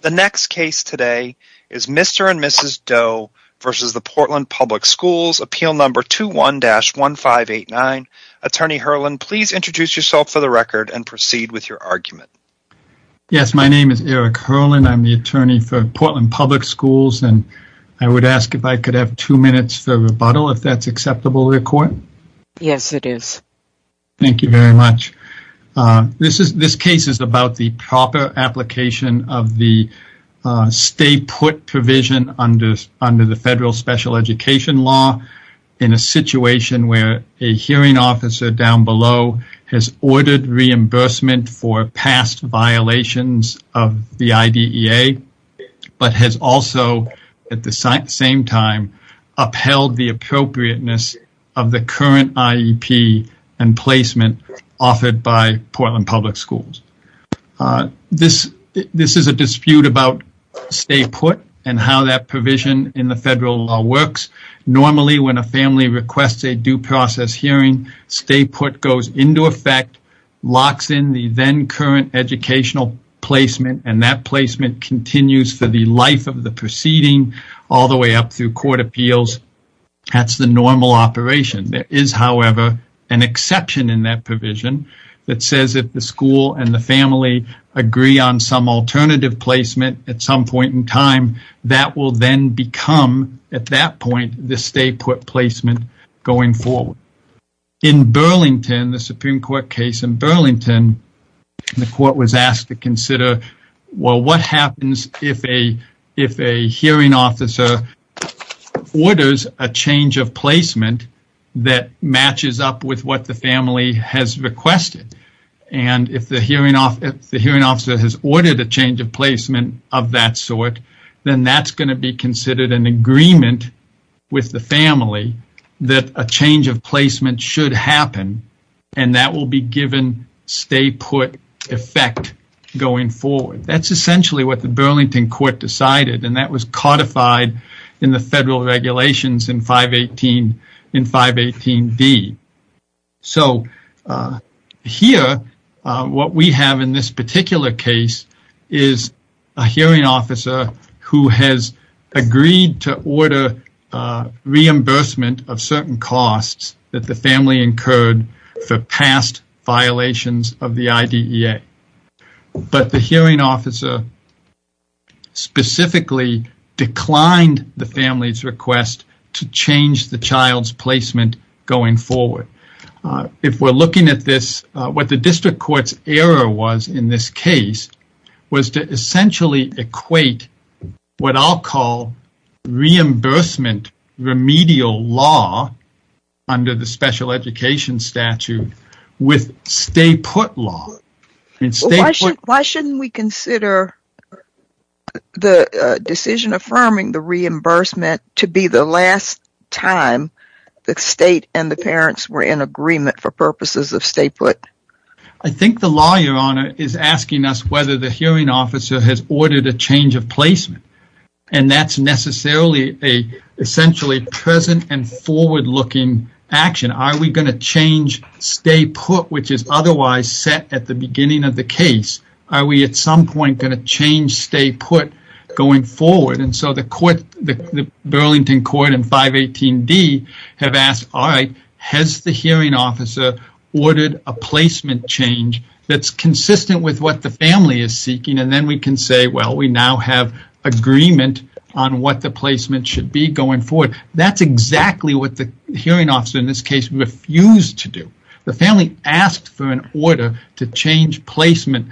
The next case today is Mr. and Mrs. Doe v. Portland Public Schools, Appeal No. 21-1589. Attorney Herlin, please introduce yourself for the record and proceed with your argument. Yes, my name is Eric Herlin. I'm the attorney for Portland Public Schools, and I would ask if I could have two minutes for rebuttal, if that's acceptable in court. Yes, it is. Thank you very much. This case is about the proper application of the stay-put provision under the federal special education law in a situation where a hearing officer down below has ordered reimbursement for past violations of the IDEA, but has also, at the same time, upheld the appropriateness of the current IEP and placement offered by Portland Public Schools. This is a dispute about stay-put and how that provision in the federal law works. Normally, when a family requests a due process hearing, stay-put goes into effect, locks in the then current educational placement, and that placement continues for the life of the proceeding all the way up through court appeals. That's the normal operation. There is, however, an exception in that provision that says if the school and the family agree on some alternative placement at some point in time, that will then become, at that point, the stay-put placement going forward. In Burlington, the Supreme Court case in Burlington, the court was asked to consider, well, what happens if a hearing officer orders a change of placement that matches up with what the family has requested? If the hearing officer has ordered a change of placement of that sort, then that's going to be considered an agreement with the family that a change of placement should happen, and that will be given stay-put effect going forward. That's essentially what the Burlington Court decided, and that was codified in the federal regulations in 518D. Here, what we have in this particular case is a hearing officer who has agreed to order reimbursement of certain costs that the family incurred for past violations of the IDEA, but the hearing officer specifically declined the family's request to change the child's placement going forward. If we're looking at this, what the district court's error was in this case was to essentially equate what I'll call reimbursement remedial law under the special Why shouldn't we consider the decision affirming the reimbursement to be the last time the state and the parents were in agreement for purposes of stay-put? I think the law, Your Honor, is asking us whether the hearing officer has ordered a change of placement, and that's necessarily a essentially present and forward-looking action. Are we going to change stay-put, which is otherwise set at the beginning of the case? Are we at some point going to change stay-put going forward? The Burlington Court and 518D have asked, all right, has the hearing officer ordered a placement change that's consistent with what the family is seeking? Then we can say, well, we now have agreement on what the placement should be going forward. That's exactly what the hearing officer in this case refused to do. The family asked for an order to change placement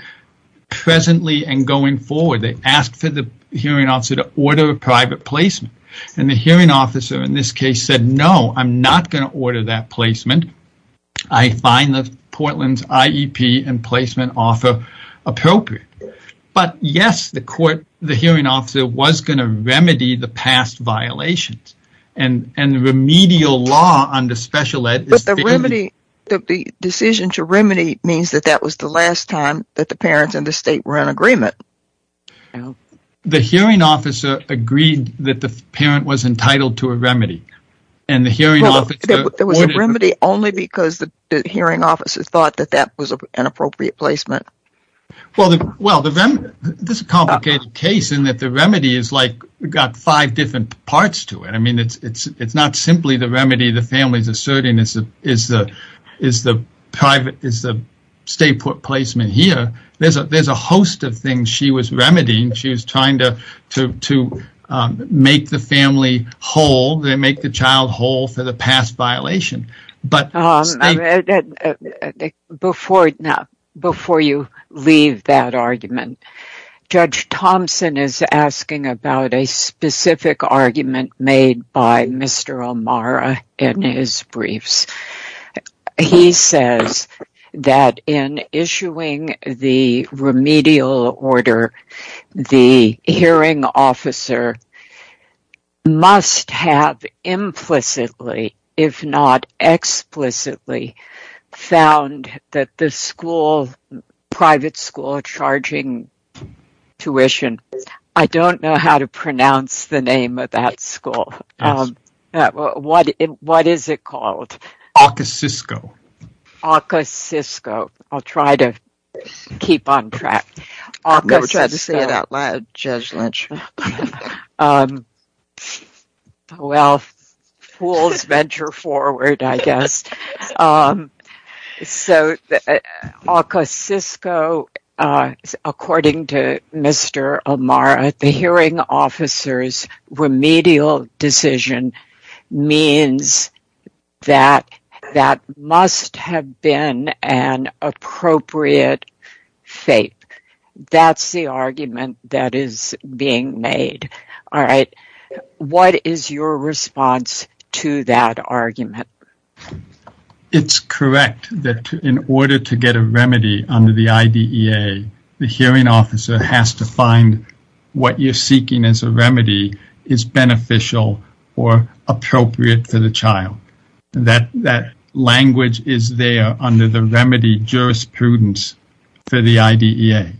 presently and going forward. They asked for the hearing officer to order a private placement. The hearing officer in this case said, no, I'm not going to order that placement. I find the Portland's IEP and placement offer appropriate. Yes, the hearing officer was going to remedy the past violations, and the remedial law under special ed. But the decision to remedy means that that was the last time that the parents in the state were in agreement. The hearing officer agreed that the parent was entitled to a remedy. There was a remedy only because the hearing officer thought that that was an appropriate placement. Well, this is a complicated case in that the remedy is like, we've got five different parts to it. I mean, it's not simply the remedy the family is asserting is the private, is the stay-put placement here. There's a host of things she was remedying. She was trying to make the family whole, make the child whole for the past violation. Before you leave that argument, Judge Thompson is asking about a specific argument made by Mr. O'Mara in his briefs. He says that in issuing the remedial order, the hearing officer must have implicitly, if not explicitly, found that the school, private school, charging tuition. I don't know how to pronounce the name of that school. What is it called? Ocasisco. Ocasisco. I'll try to keep on track. We'll try to say it out loud, Judge Lynch. Well, fools venture forward, I guess. So, Ocasisco, according to Mr. O'Mara, the hearing officer's remedial decision means that that must have been an appropriate fate. That's the argument that is being made. All right. What is your response to that argument? It's correct that in order to get a remedy under the IDEA, the hearing officer has to find what you're seeking as a remedy is beneficial or appropriate for the child. That language is there under the remedy jurisprudence for the IDEA.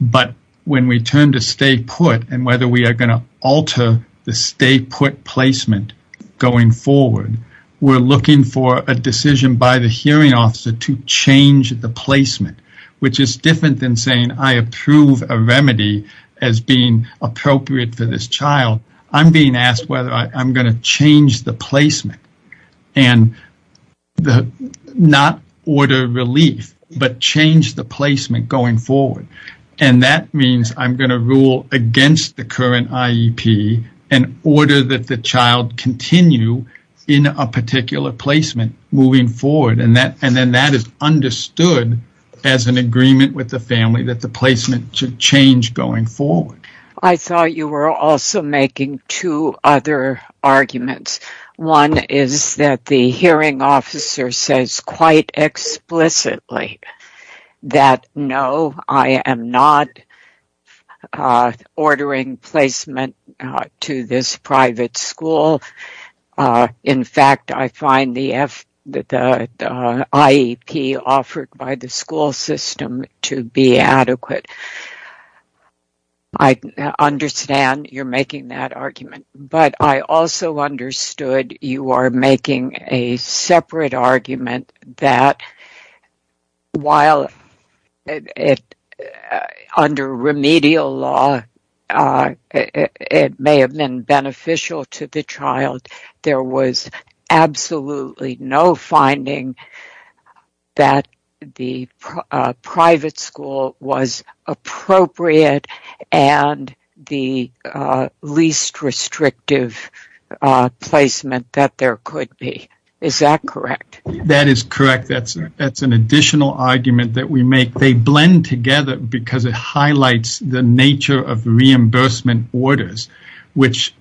But when we turn to stay put and whether we are going to alter the stay put placement going forward, we're looking for a decision by the hearing officer to change the placement, which is different than saying, I approve a remedy as being appropriate for this child. I'm being asked whether I'm going to change the placement and not order relief, but change the placement going forward. And that means I'm going to rule against the current IEP in order that the child continue in a particular placement moving forward. And then that is understood as an agreement with the family that the placement should change going forward. I thought you were also making two other arguments. One is that the hearing officer says quite explicitly that no, I am not ordering placement to this private school. In fact, I find the IEP offered by the school system to be adequate. I understand you're making that argument, but I also understood you are making a separate argument that while under remedial law, it may have been beneficial to the child, there was absolutely no finding that the private school was appropriate and the least restrictive placement that there could be. Is that correct? That is correct. That's an additional argument that we make. They blend together because it orders, which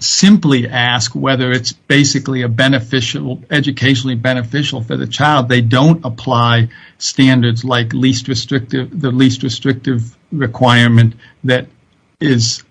simply ask whether it's basically educationally beneficial for the child. They don't apply standards like the least restrictive requirement that is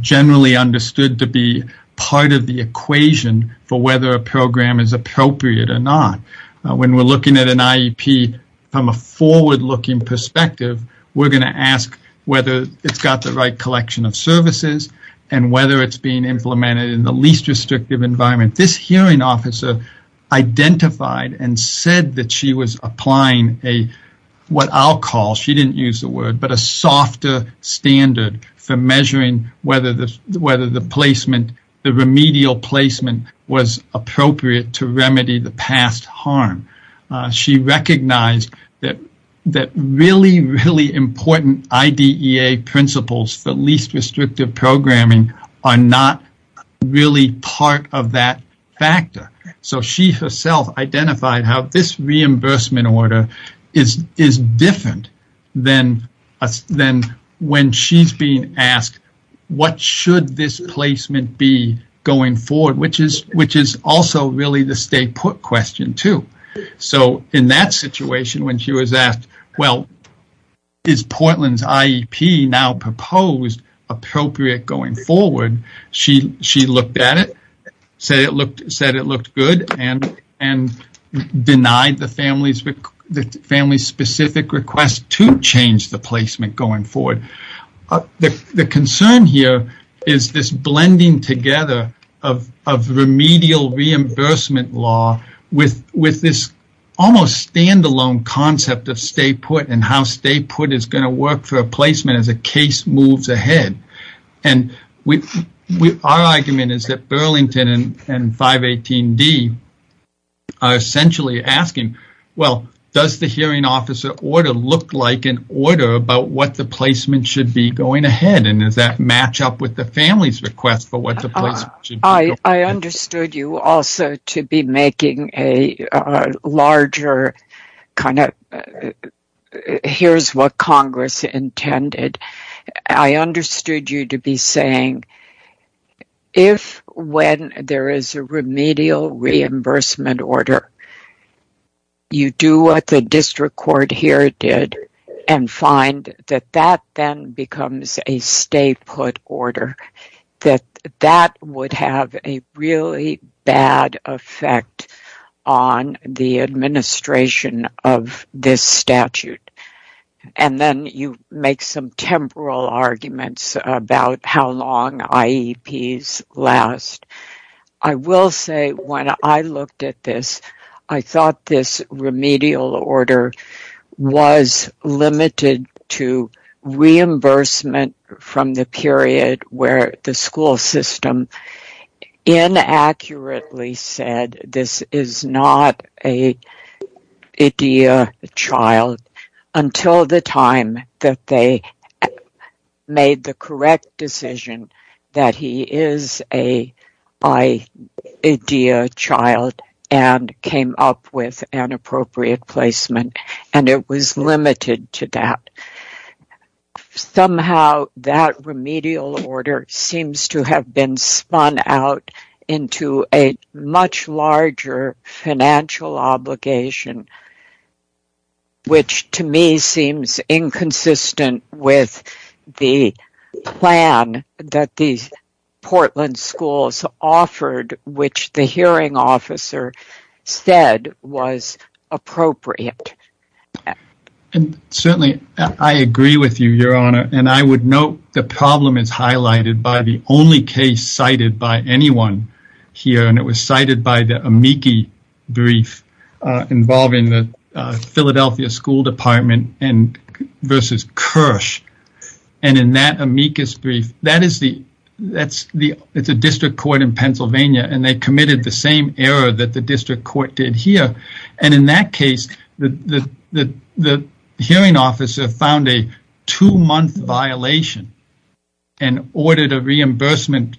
generally understood to be part of the equation for whether a program is appropriate or not. When we're looking at an IEP from a forward-looking perspective, we're going to ask whether it's got the right collection of services and whether it's being implemented in the least restrictive environment. This hearing officer identified and said that she was applying what I'll call, she didn't use the word, but a softer standard for measuring whether the placement, the remedial placement was appropriate to remedy the past harm. She recognized that really, really important IDEA principles for least restrictive programming are not really part of that factor. She herself identified how this reimbursement order is different than when she's being asked, what should this placement be going forward, which is also really the stay put question too. In that situation, when she was asked, well, is Portland's IEP now proposed appropriate going forward? She looked at it, said it looked good and denied the family's specific request to change the placement going forward. The concern here is this blending together of remedial reimbursement law with this almost standalone concept of stay put and how stay put is going to work for a placement as a case moves ahead. Our argument is that Burlington and 518D are essentially asking, well, does the placement should be going ahead and does that match up with the family's request for what the placement should be? I understood you also to be making a larger kind of, here's what Congress intended. I understood you to be saying, if when there is a remedial reimbursement order, you do what the district court here did and find that that then becomes a stay put order, that that would have a really bad effect on the administration of this statute. And then you make some temporal arguments about how long IEPs last. I will say when I looked at this, I thought this remedial order was limited to reimbursement from the period where the school system inaccurately said this is not a IDEA child until the time that they made the correct decision that he is a IDEA child and came up with an appropriate placement. And it was limited to that. Somehow that remedial order seems to have been spun out into a much larger financial obligation, which to me seems inconsistent with the plan that these Portland schools offered, which the hearing officer said was appropriate. And certainly I agree with you, Your Honor. And I would note the problem is highlighted by the amici brief involving the Philadelphia School Department versus Kirsch. And in that amicus brief, it's a district court in Pennsylvania, and they committed the same error that the district court did here. And in that case, the hearing officer found a two-month violation and ordered a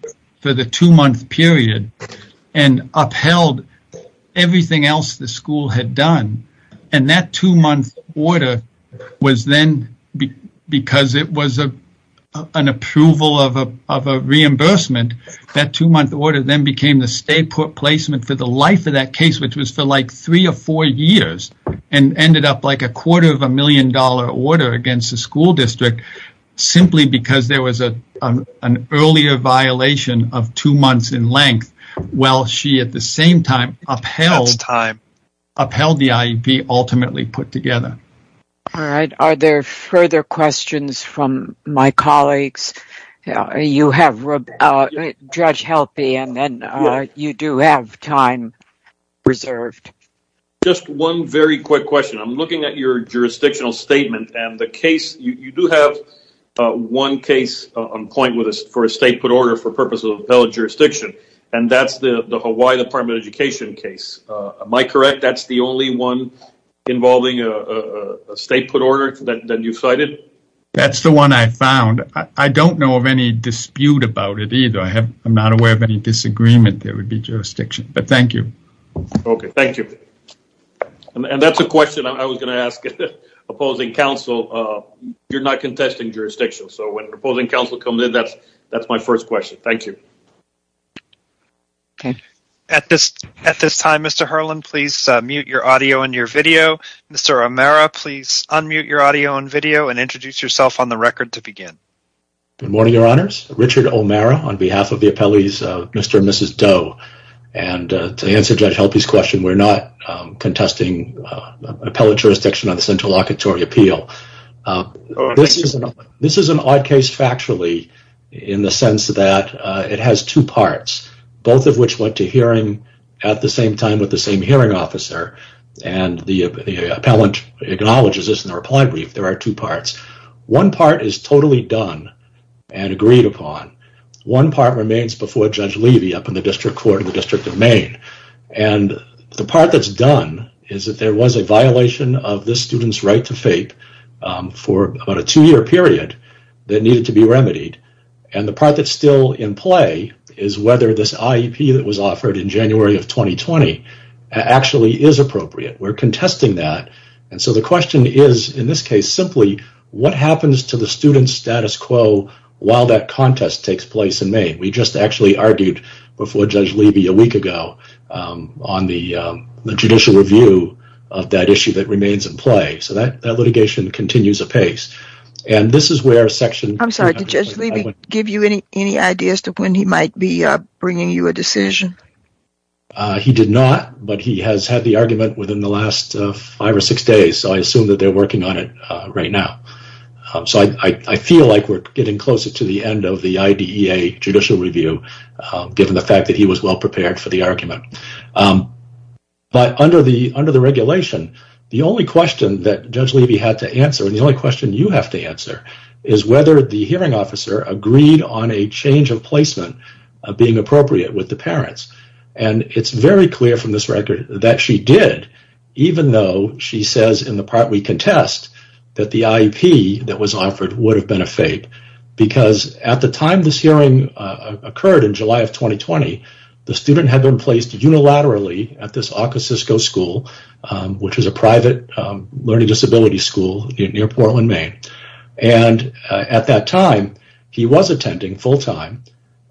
upheld everything else the school had done. And that two-month order was then, because it was an approval of a reimbursement, that two-month order then became the state placement for the life of that case, which was for like three or four years and ended up like a quarter of a million dollar order against the school district simply because there was an earlier violation of two months in length, while she at the same time upheld the IEP ultimately put together. All right. Are there further questions from my colleagues? You have, Judge Helpe, and you do have time reserved. Just one very quick question. I'm looking at your jurisdictional statement and the case, you do have one case on point for a state put order for purpose of appellate jurisdiction, and that's the Hawaii Department of Education case. Am I correct? That's the only one involving a state put order that you've cited? That's the one I found. I don't know of any dispute about it either. I'm not aware of any disagreement. There would be jurisdiction, but thank you. Okay, thank you. And that's a question I was going to ask opposing counsel. You're not contesting jurisdiction, so when opposing counsel comes in, that's my first question. Thank you. Okay. At this time, Mr. Herland, please mute your audio and your video. Mr. O'Mara, please unmute your audio and video and introduce yourself on the record to begin. Good morning, Your Honors. Richard O'Mara on behalf of the appellees, Mr. and Mrs. Doe, and to answer Judge Helpe's question, we're not contesting appellate jurisdiction on the central locatory appeal. This is an odd case factually in the sense that it has two parts, both of which went to hearing at the same time with the same hearing officer, and the appellant acknowledges this in the reply brief. There are two parts. One part is totally done and agreed upon. One part remains before Judge Levy up in the district court in the District of Maine, and the part that's done is that there was a violation of this student's right to fape for about a two-year period that needed to be remedied, and the part that's still in play is whether this IEP that was offered in January of 2020 actually is appropriate. We're contesting that, and so the question is in this case simply what happens to the student's status quo while that contest takes place in May? We just actually argued before Judge Levy a week ago on the judicial review of that issue that remains in play, so that litigation continues apace, and this is where section... I'm sorry, did Judge Levy give you any ideas to when he might be within the last five or six days? I assume that they're working on it right now, so I feel like we're getting closer to the end of the IDEA judicial review given the fact that he was well prepared for the argument, but under the regulation, the only question that Judge Levy had to answer, and the only question you have to answer, is whether the hearing officer agreed on a change of placement being appropriate with the parents, and it's very clear from this record that she did even though she says in the part we contest that the IEP that was offered would have been a fake because at the time this hearing occurred in July of 2020, the student had been placed unilaterally at this Ocasisco school, which is a private learning disability school near Portland, Maine, and at that time he was attending full-time,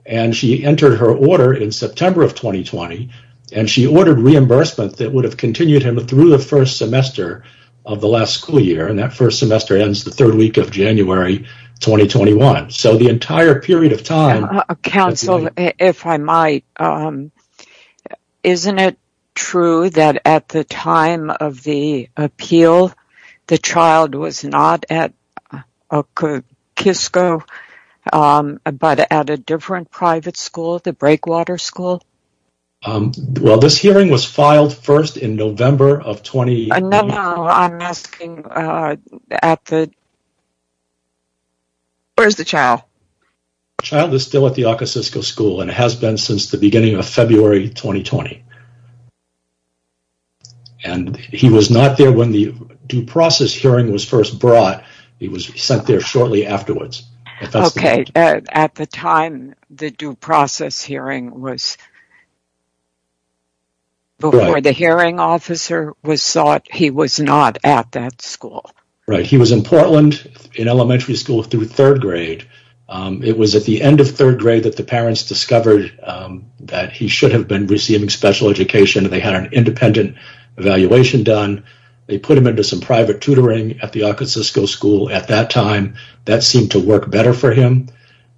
and she entered her order in September of 2020, and she ordered reimbursement that would have continued him through the first semester of the last school year, and that first semester ends the third week of January 2021, so the entire period of time... Counsel, if I might, isn't it true that at the time of the appeal, the child was not at Ocasisco, but at a different private school, the Breakwater School? Well, this hearing was filed first in November of 20... No, no, I'm asking at the... Where's the child? The child is still at the Ocasisco school, and has been since the beginning of February 2020, and he was not there when the due process hearing was first brought. He was sent there shortly afterwards. Okay, at the time the due process hearing was... Before the hearing officer was sought, he was not at that school. Right, he was in Portland in elementary school through third grade. It was at the end of third grade that the parents discovered that he should have been receiving special education, and they had an independent evaluation done. They put him into some private tutoring at the Ocasisco school at that time. That seemed to work better for him.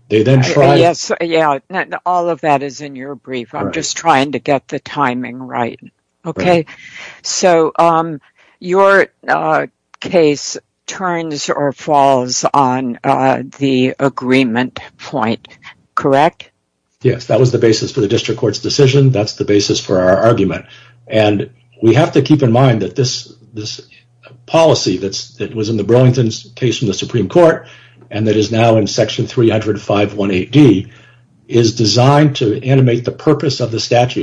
They then tried... Yes, yeah, all of that is in your brief. I'm just trying to get the timing right. Okay, so your case turns or falls on the agreement point, correct? Yes, that was the basis for the district court's decision. That's the basis for our argument, and we have to keep in mind that this policy that was in the Burlington case from the statute,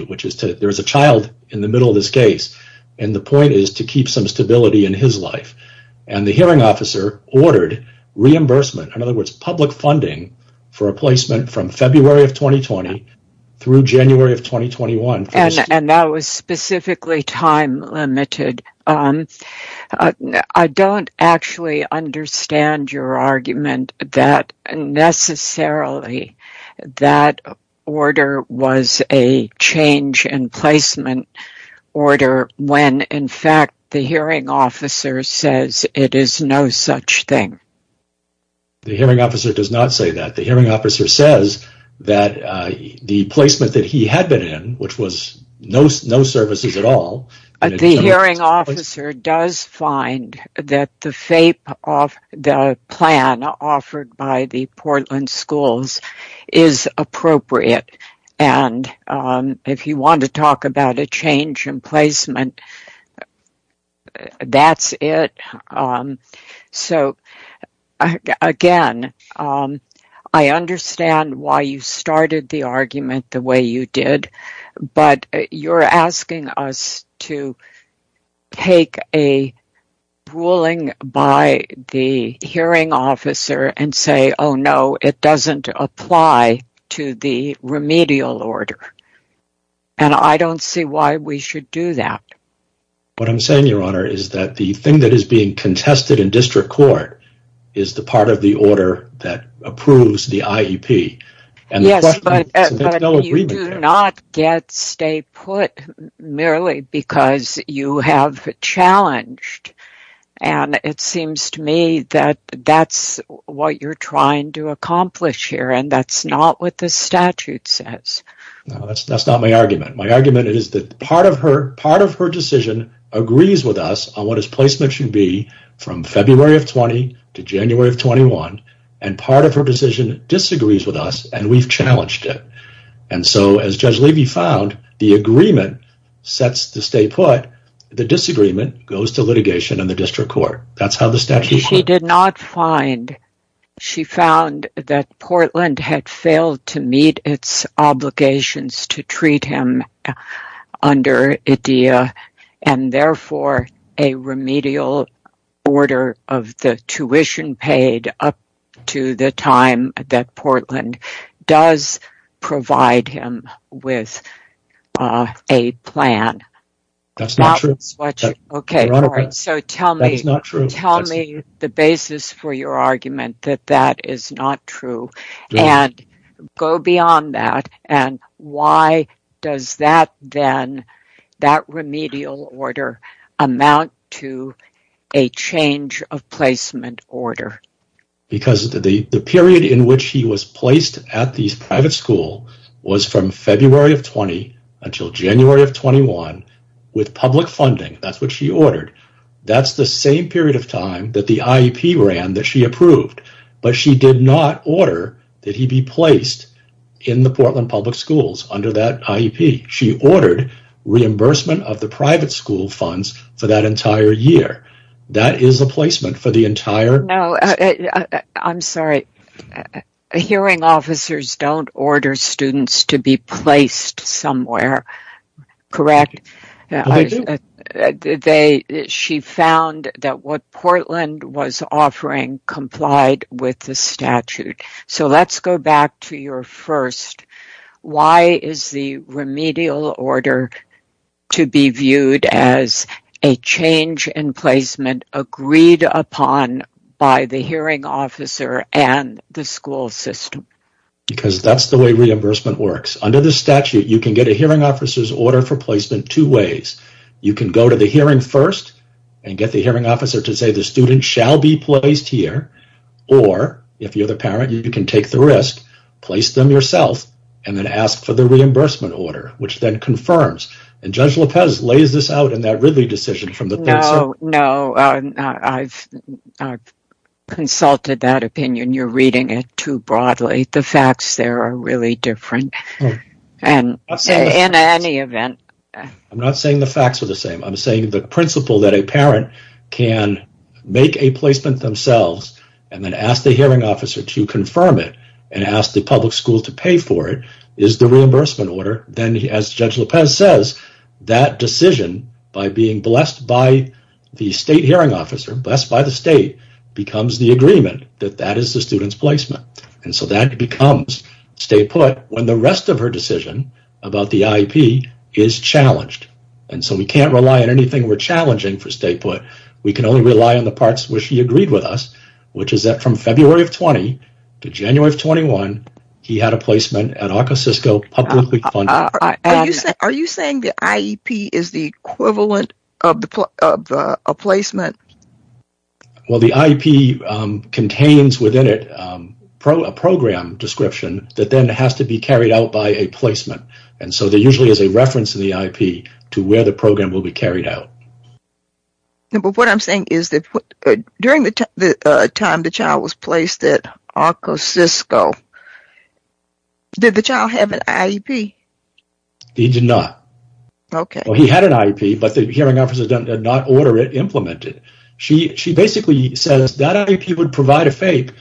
which is to... There's a child in the middle of this case, and the point is to keep some stability in his life, and the hearing officer ordered reimbursement. In other words, public funding for a placement from February of 2020 through January of 2021. And that was specifically time limited. I don't actually understand your argument that necessarily that order was a change in placement order when, in fact, the hearing officer says it is no such thing. The hearing officer does not say that. The hearing officer says that the placement that he had been in, which was no services at all... The hearing officer does find that the plan offered by the Portland schools is appropriate, and if you want to talk about a change in placement, that's it. So again, I understand why you started the argument the way you did, but you're asking us to take a ruling by the hearing officer and say, oh no, it doesn't apply to the remedial order, and I don't see why we should do that. What I'm saying, your honor, is that the thing that is being contested in district court is the part of the order that approves the IEP. Yes, but you do not get stay put merely because you have challenged, and it seems to me that that's what you're trying to accomplish here, and that's not what the statute says. No, that's not my argument. My argument is that part of her decision agrees with us on what his placement should be from February of 20 to January of 21, and part of her decision disagrees with us, and we've challenged it, and so as Judge Levy found, the agreement sets the stay put. The disagreement goes to litigation in the district court. That's how the statute... She did not find. She found that Portland had failed to meet its obligations to treat him under IDEA, and therefore a remedial order of the tuition paid up to the time that Portland does provide him with a plan. That's not true. Okay, all right, so tell me the basis for your argument that that is not true, and go beyond that, and why does that then, that remedial order amount to a change of placement order? Because the period in which he was placed at the private school was from February of 20 until January of 21 with public funding. That's what she ordered. That's the same period of time that the IEP ran that she approved, but she did not order that he be placed in the Portland Public Schools under that IEP. She ordered reimbursement of the private school funds for that entire year. That is a placement for the entire... No, I'm sorry. Hearing officers don't order students to be placed somewhere, correct? She found that what Portland was offering complied with the statute, so let's go back to your first. Why is the remedial order to be viewed as a change in placement agreed upon by the hearing officer and the school system? Because that's the way reimbursement works. Under the statute, you can get a hearing officer's order for placement two ways. You can go to the hearing first and get the hearing officer to say the student shall be placed here, or if you're the parent, you can take the risk, place them yourself, and then ask for the reimbursement order, which then confirms, and Judge too broadly, the facts there are really different. In any event... I'm not saying the facts are the same. I'm saying the principle that a parent can make a placement themselves and then ask the hearing officer to confirm it and ask the public school to pay for it is the reimbursement order. Then, as Judge Lopez says, that decision, by being blessed by the state hearing officer, blessed by the state, becomes the agreement that that is the student's placement, and so that becomes state put when the rest of her decision about the IEP is challenged, and so we can't rely on anything we're challenging for state put. We can only rely on the parts where she agreed with us, which is that from February of 20 to January of 21, he had a placement at Well, the IEP contains within it a program description that then has to be carried out by a placement, and so there usually is a reference to the IEP to where the program will be carried out. But what I'm saying is that during the time the child was placed at ArcoCisco, did the child have an IEP? He did not. Okay. Well, he had an IEP, but the hearing officer did not order it implemented. She basically says that IEP would provide a FAPE,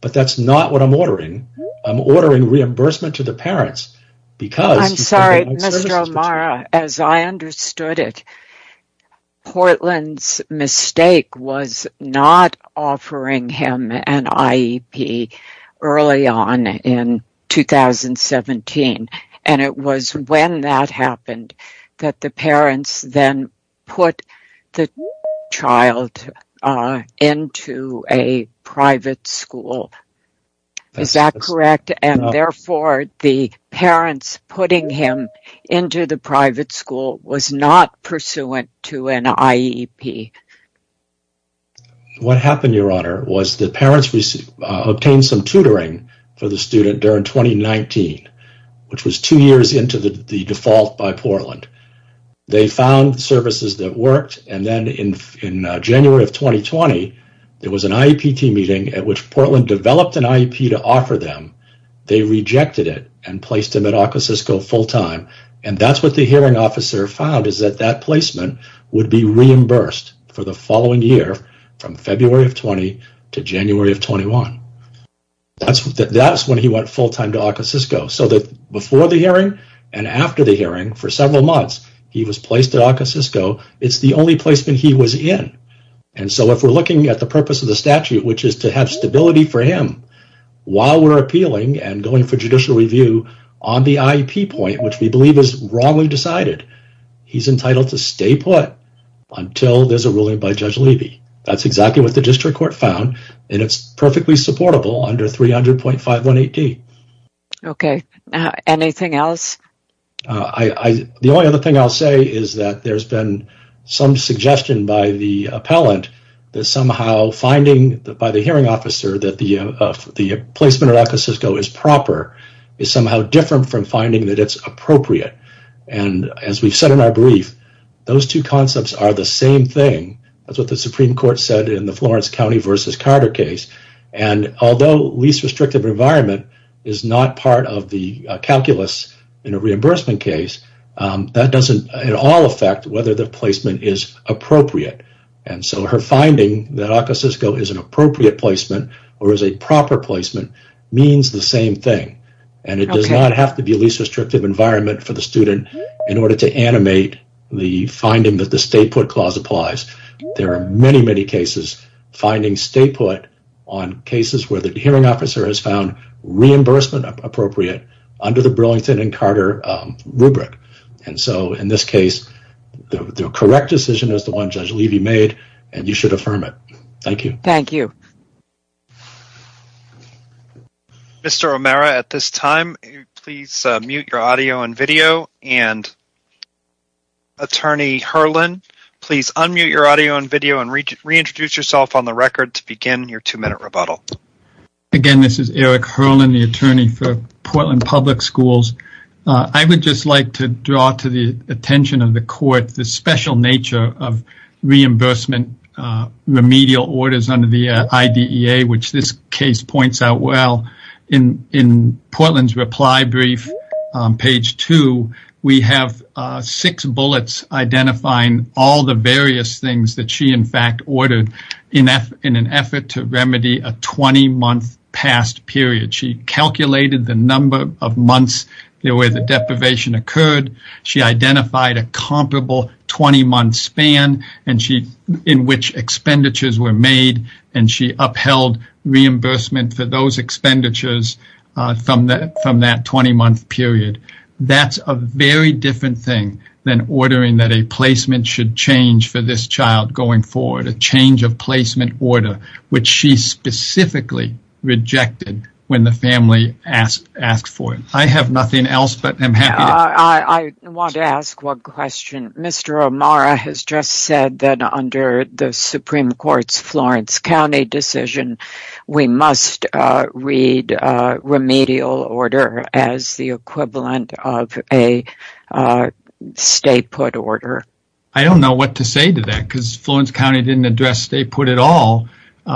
but that's not what I'm ordering. I'm ordering reimbursement to the parents because... I'm sorry, Mr. O'Mara. As I understood it, Portland's mistake was not offering him an IEP early on in 2017, and it was when that happened that the parents then put the child into a private school. Is that correct? And therefore, the parents putting him into the private school was not pursuant to an IEP. What happened, Your Honor, was the parents obtained some tutoring for the student during 2019, which was two years into the default by Portland. They found services that worked, and then in January of 2020, there was an IEP team meeting at which Portland developed an IEP to offer them. They rejected it and placed him at ArcoCisco full-time, and that's what the hearing officer found, is that that placement would be reimbursed for the following year from February of 2020 to January of 2021. That's when he went full-time to ArcoCisco, so that before the hearing and after the hearing, for several months, he was placed at ArcoCisco. It's the only placement he was in, and so if we're looking at the purpose of the statute, which is to have stability for him while we're appealing and going for judicial review on the IEP point, which we believe is wrongly decided, he's entitled to stay put until there's a ruling by Judge Levy. That's exactly what the district court found, and it's perfectly supportable under 300.518D. Okay, anything else? The only other thing I'll say is that there's been some suggestion by the appellant that somehow finding by the hearing officer that the placement at ArcoCisco is proper is somehow different from finding that it's appropriate, and as we've said in our brief, those two concepts are the same thing. That's what the Supreme Court said in the Florence County v. Carter case, and although least restrictive environment is not part of the calculus in a reimbursement case, that doesn't at all affect whether the placement is appropriate, and so her finding that ArcoCisco is an appropriate placement or is a proper placement means the same thing, and it does not have to be least restrictive environment for the student in order to animate the finding that the stay put clause applies. There are many, many cases finding stay put on cases where the hearing officer has found reimbursement appropriate under the Burlington v. Carter rubric, and so in this case, the correct decision is the one Judge Levy made, and you should affirm it. Thank you. Thank you. Mr. O'Mara, at this time, please mute your audio and video, and Attorney Herlin, please unmute your audio and video and reintroduce yourself on the record to begin your two-minute rebuttal. Again, this is Eric Herlin, the attorney for Portland Public Schools. I would just like to draw to the attention of the court the special nature of reimbursement remedial orders under the IDEA, which this case points out well. In Portland's reply brief, page two, we have six bullets identifying all the various things that she, in fact, ordered in an effort to remedy a 20-month past period. She calculated the number of months where the deprivation occurred. She identified a comparable 20-month span in which expenditures were made, and she upheld reimbursement for those expenditures from that 20-month period. That's a very different thing than ordering that a placement should change for this child going forward, a change of placement order, which she specifically rejected when the family asked for it. I have nothing else, but I'm happy. I want to ask one question. Mr. O'Mara has just said that under the Supreme Court's Florence County decision, we must read a remedial order as the equivalent of a stay-put order. I don't know what to say to that because Florence County didn't address stay-put at all.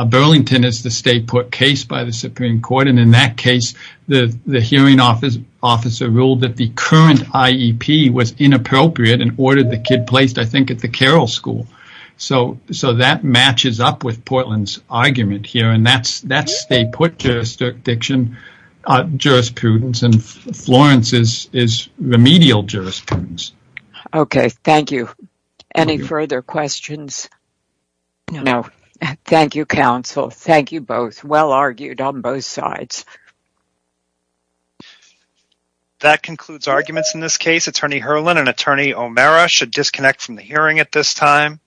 Burlington is the stay-put case by the Supreme Court, and in that case, the hearing officer ruled that the current IEP was inappropriate and ordered the kid placed, I think, at the Carroll School. So, that matches up with Portland's argument here, and that's stay-put jurisdiction, jurisprudence, and Florence is remedial jurisprudence. Okay, thank you. Any further questions? Okay, thank you, Mr. O'Mara. That concludes arguments in this case. Attorney Herlin and Attorney O'Mara should disconnect from the hearing at this time.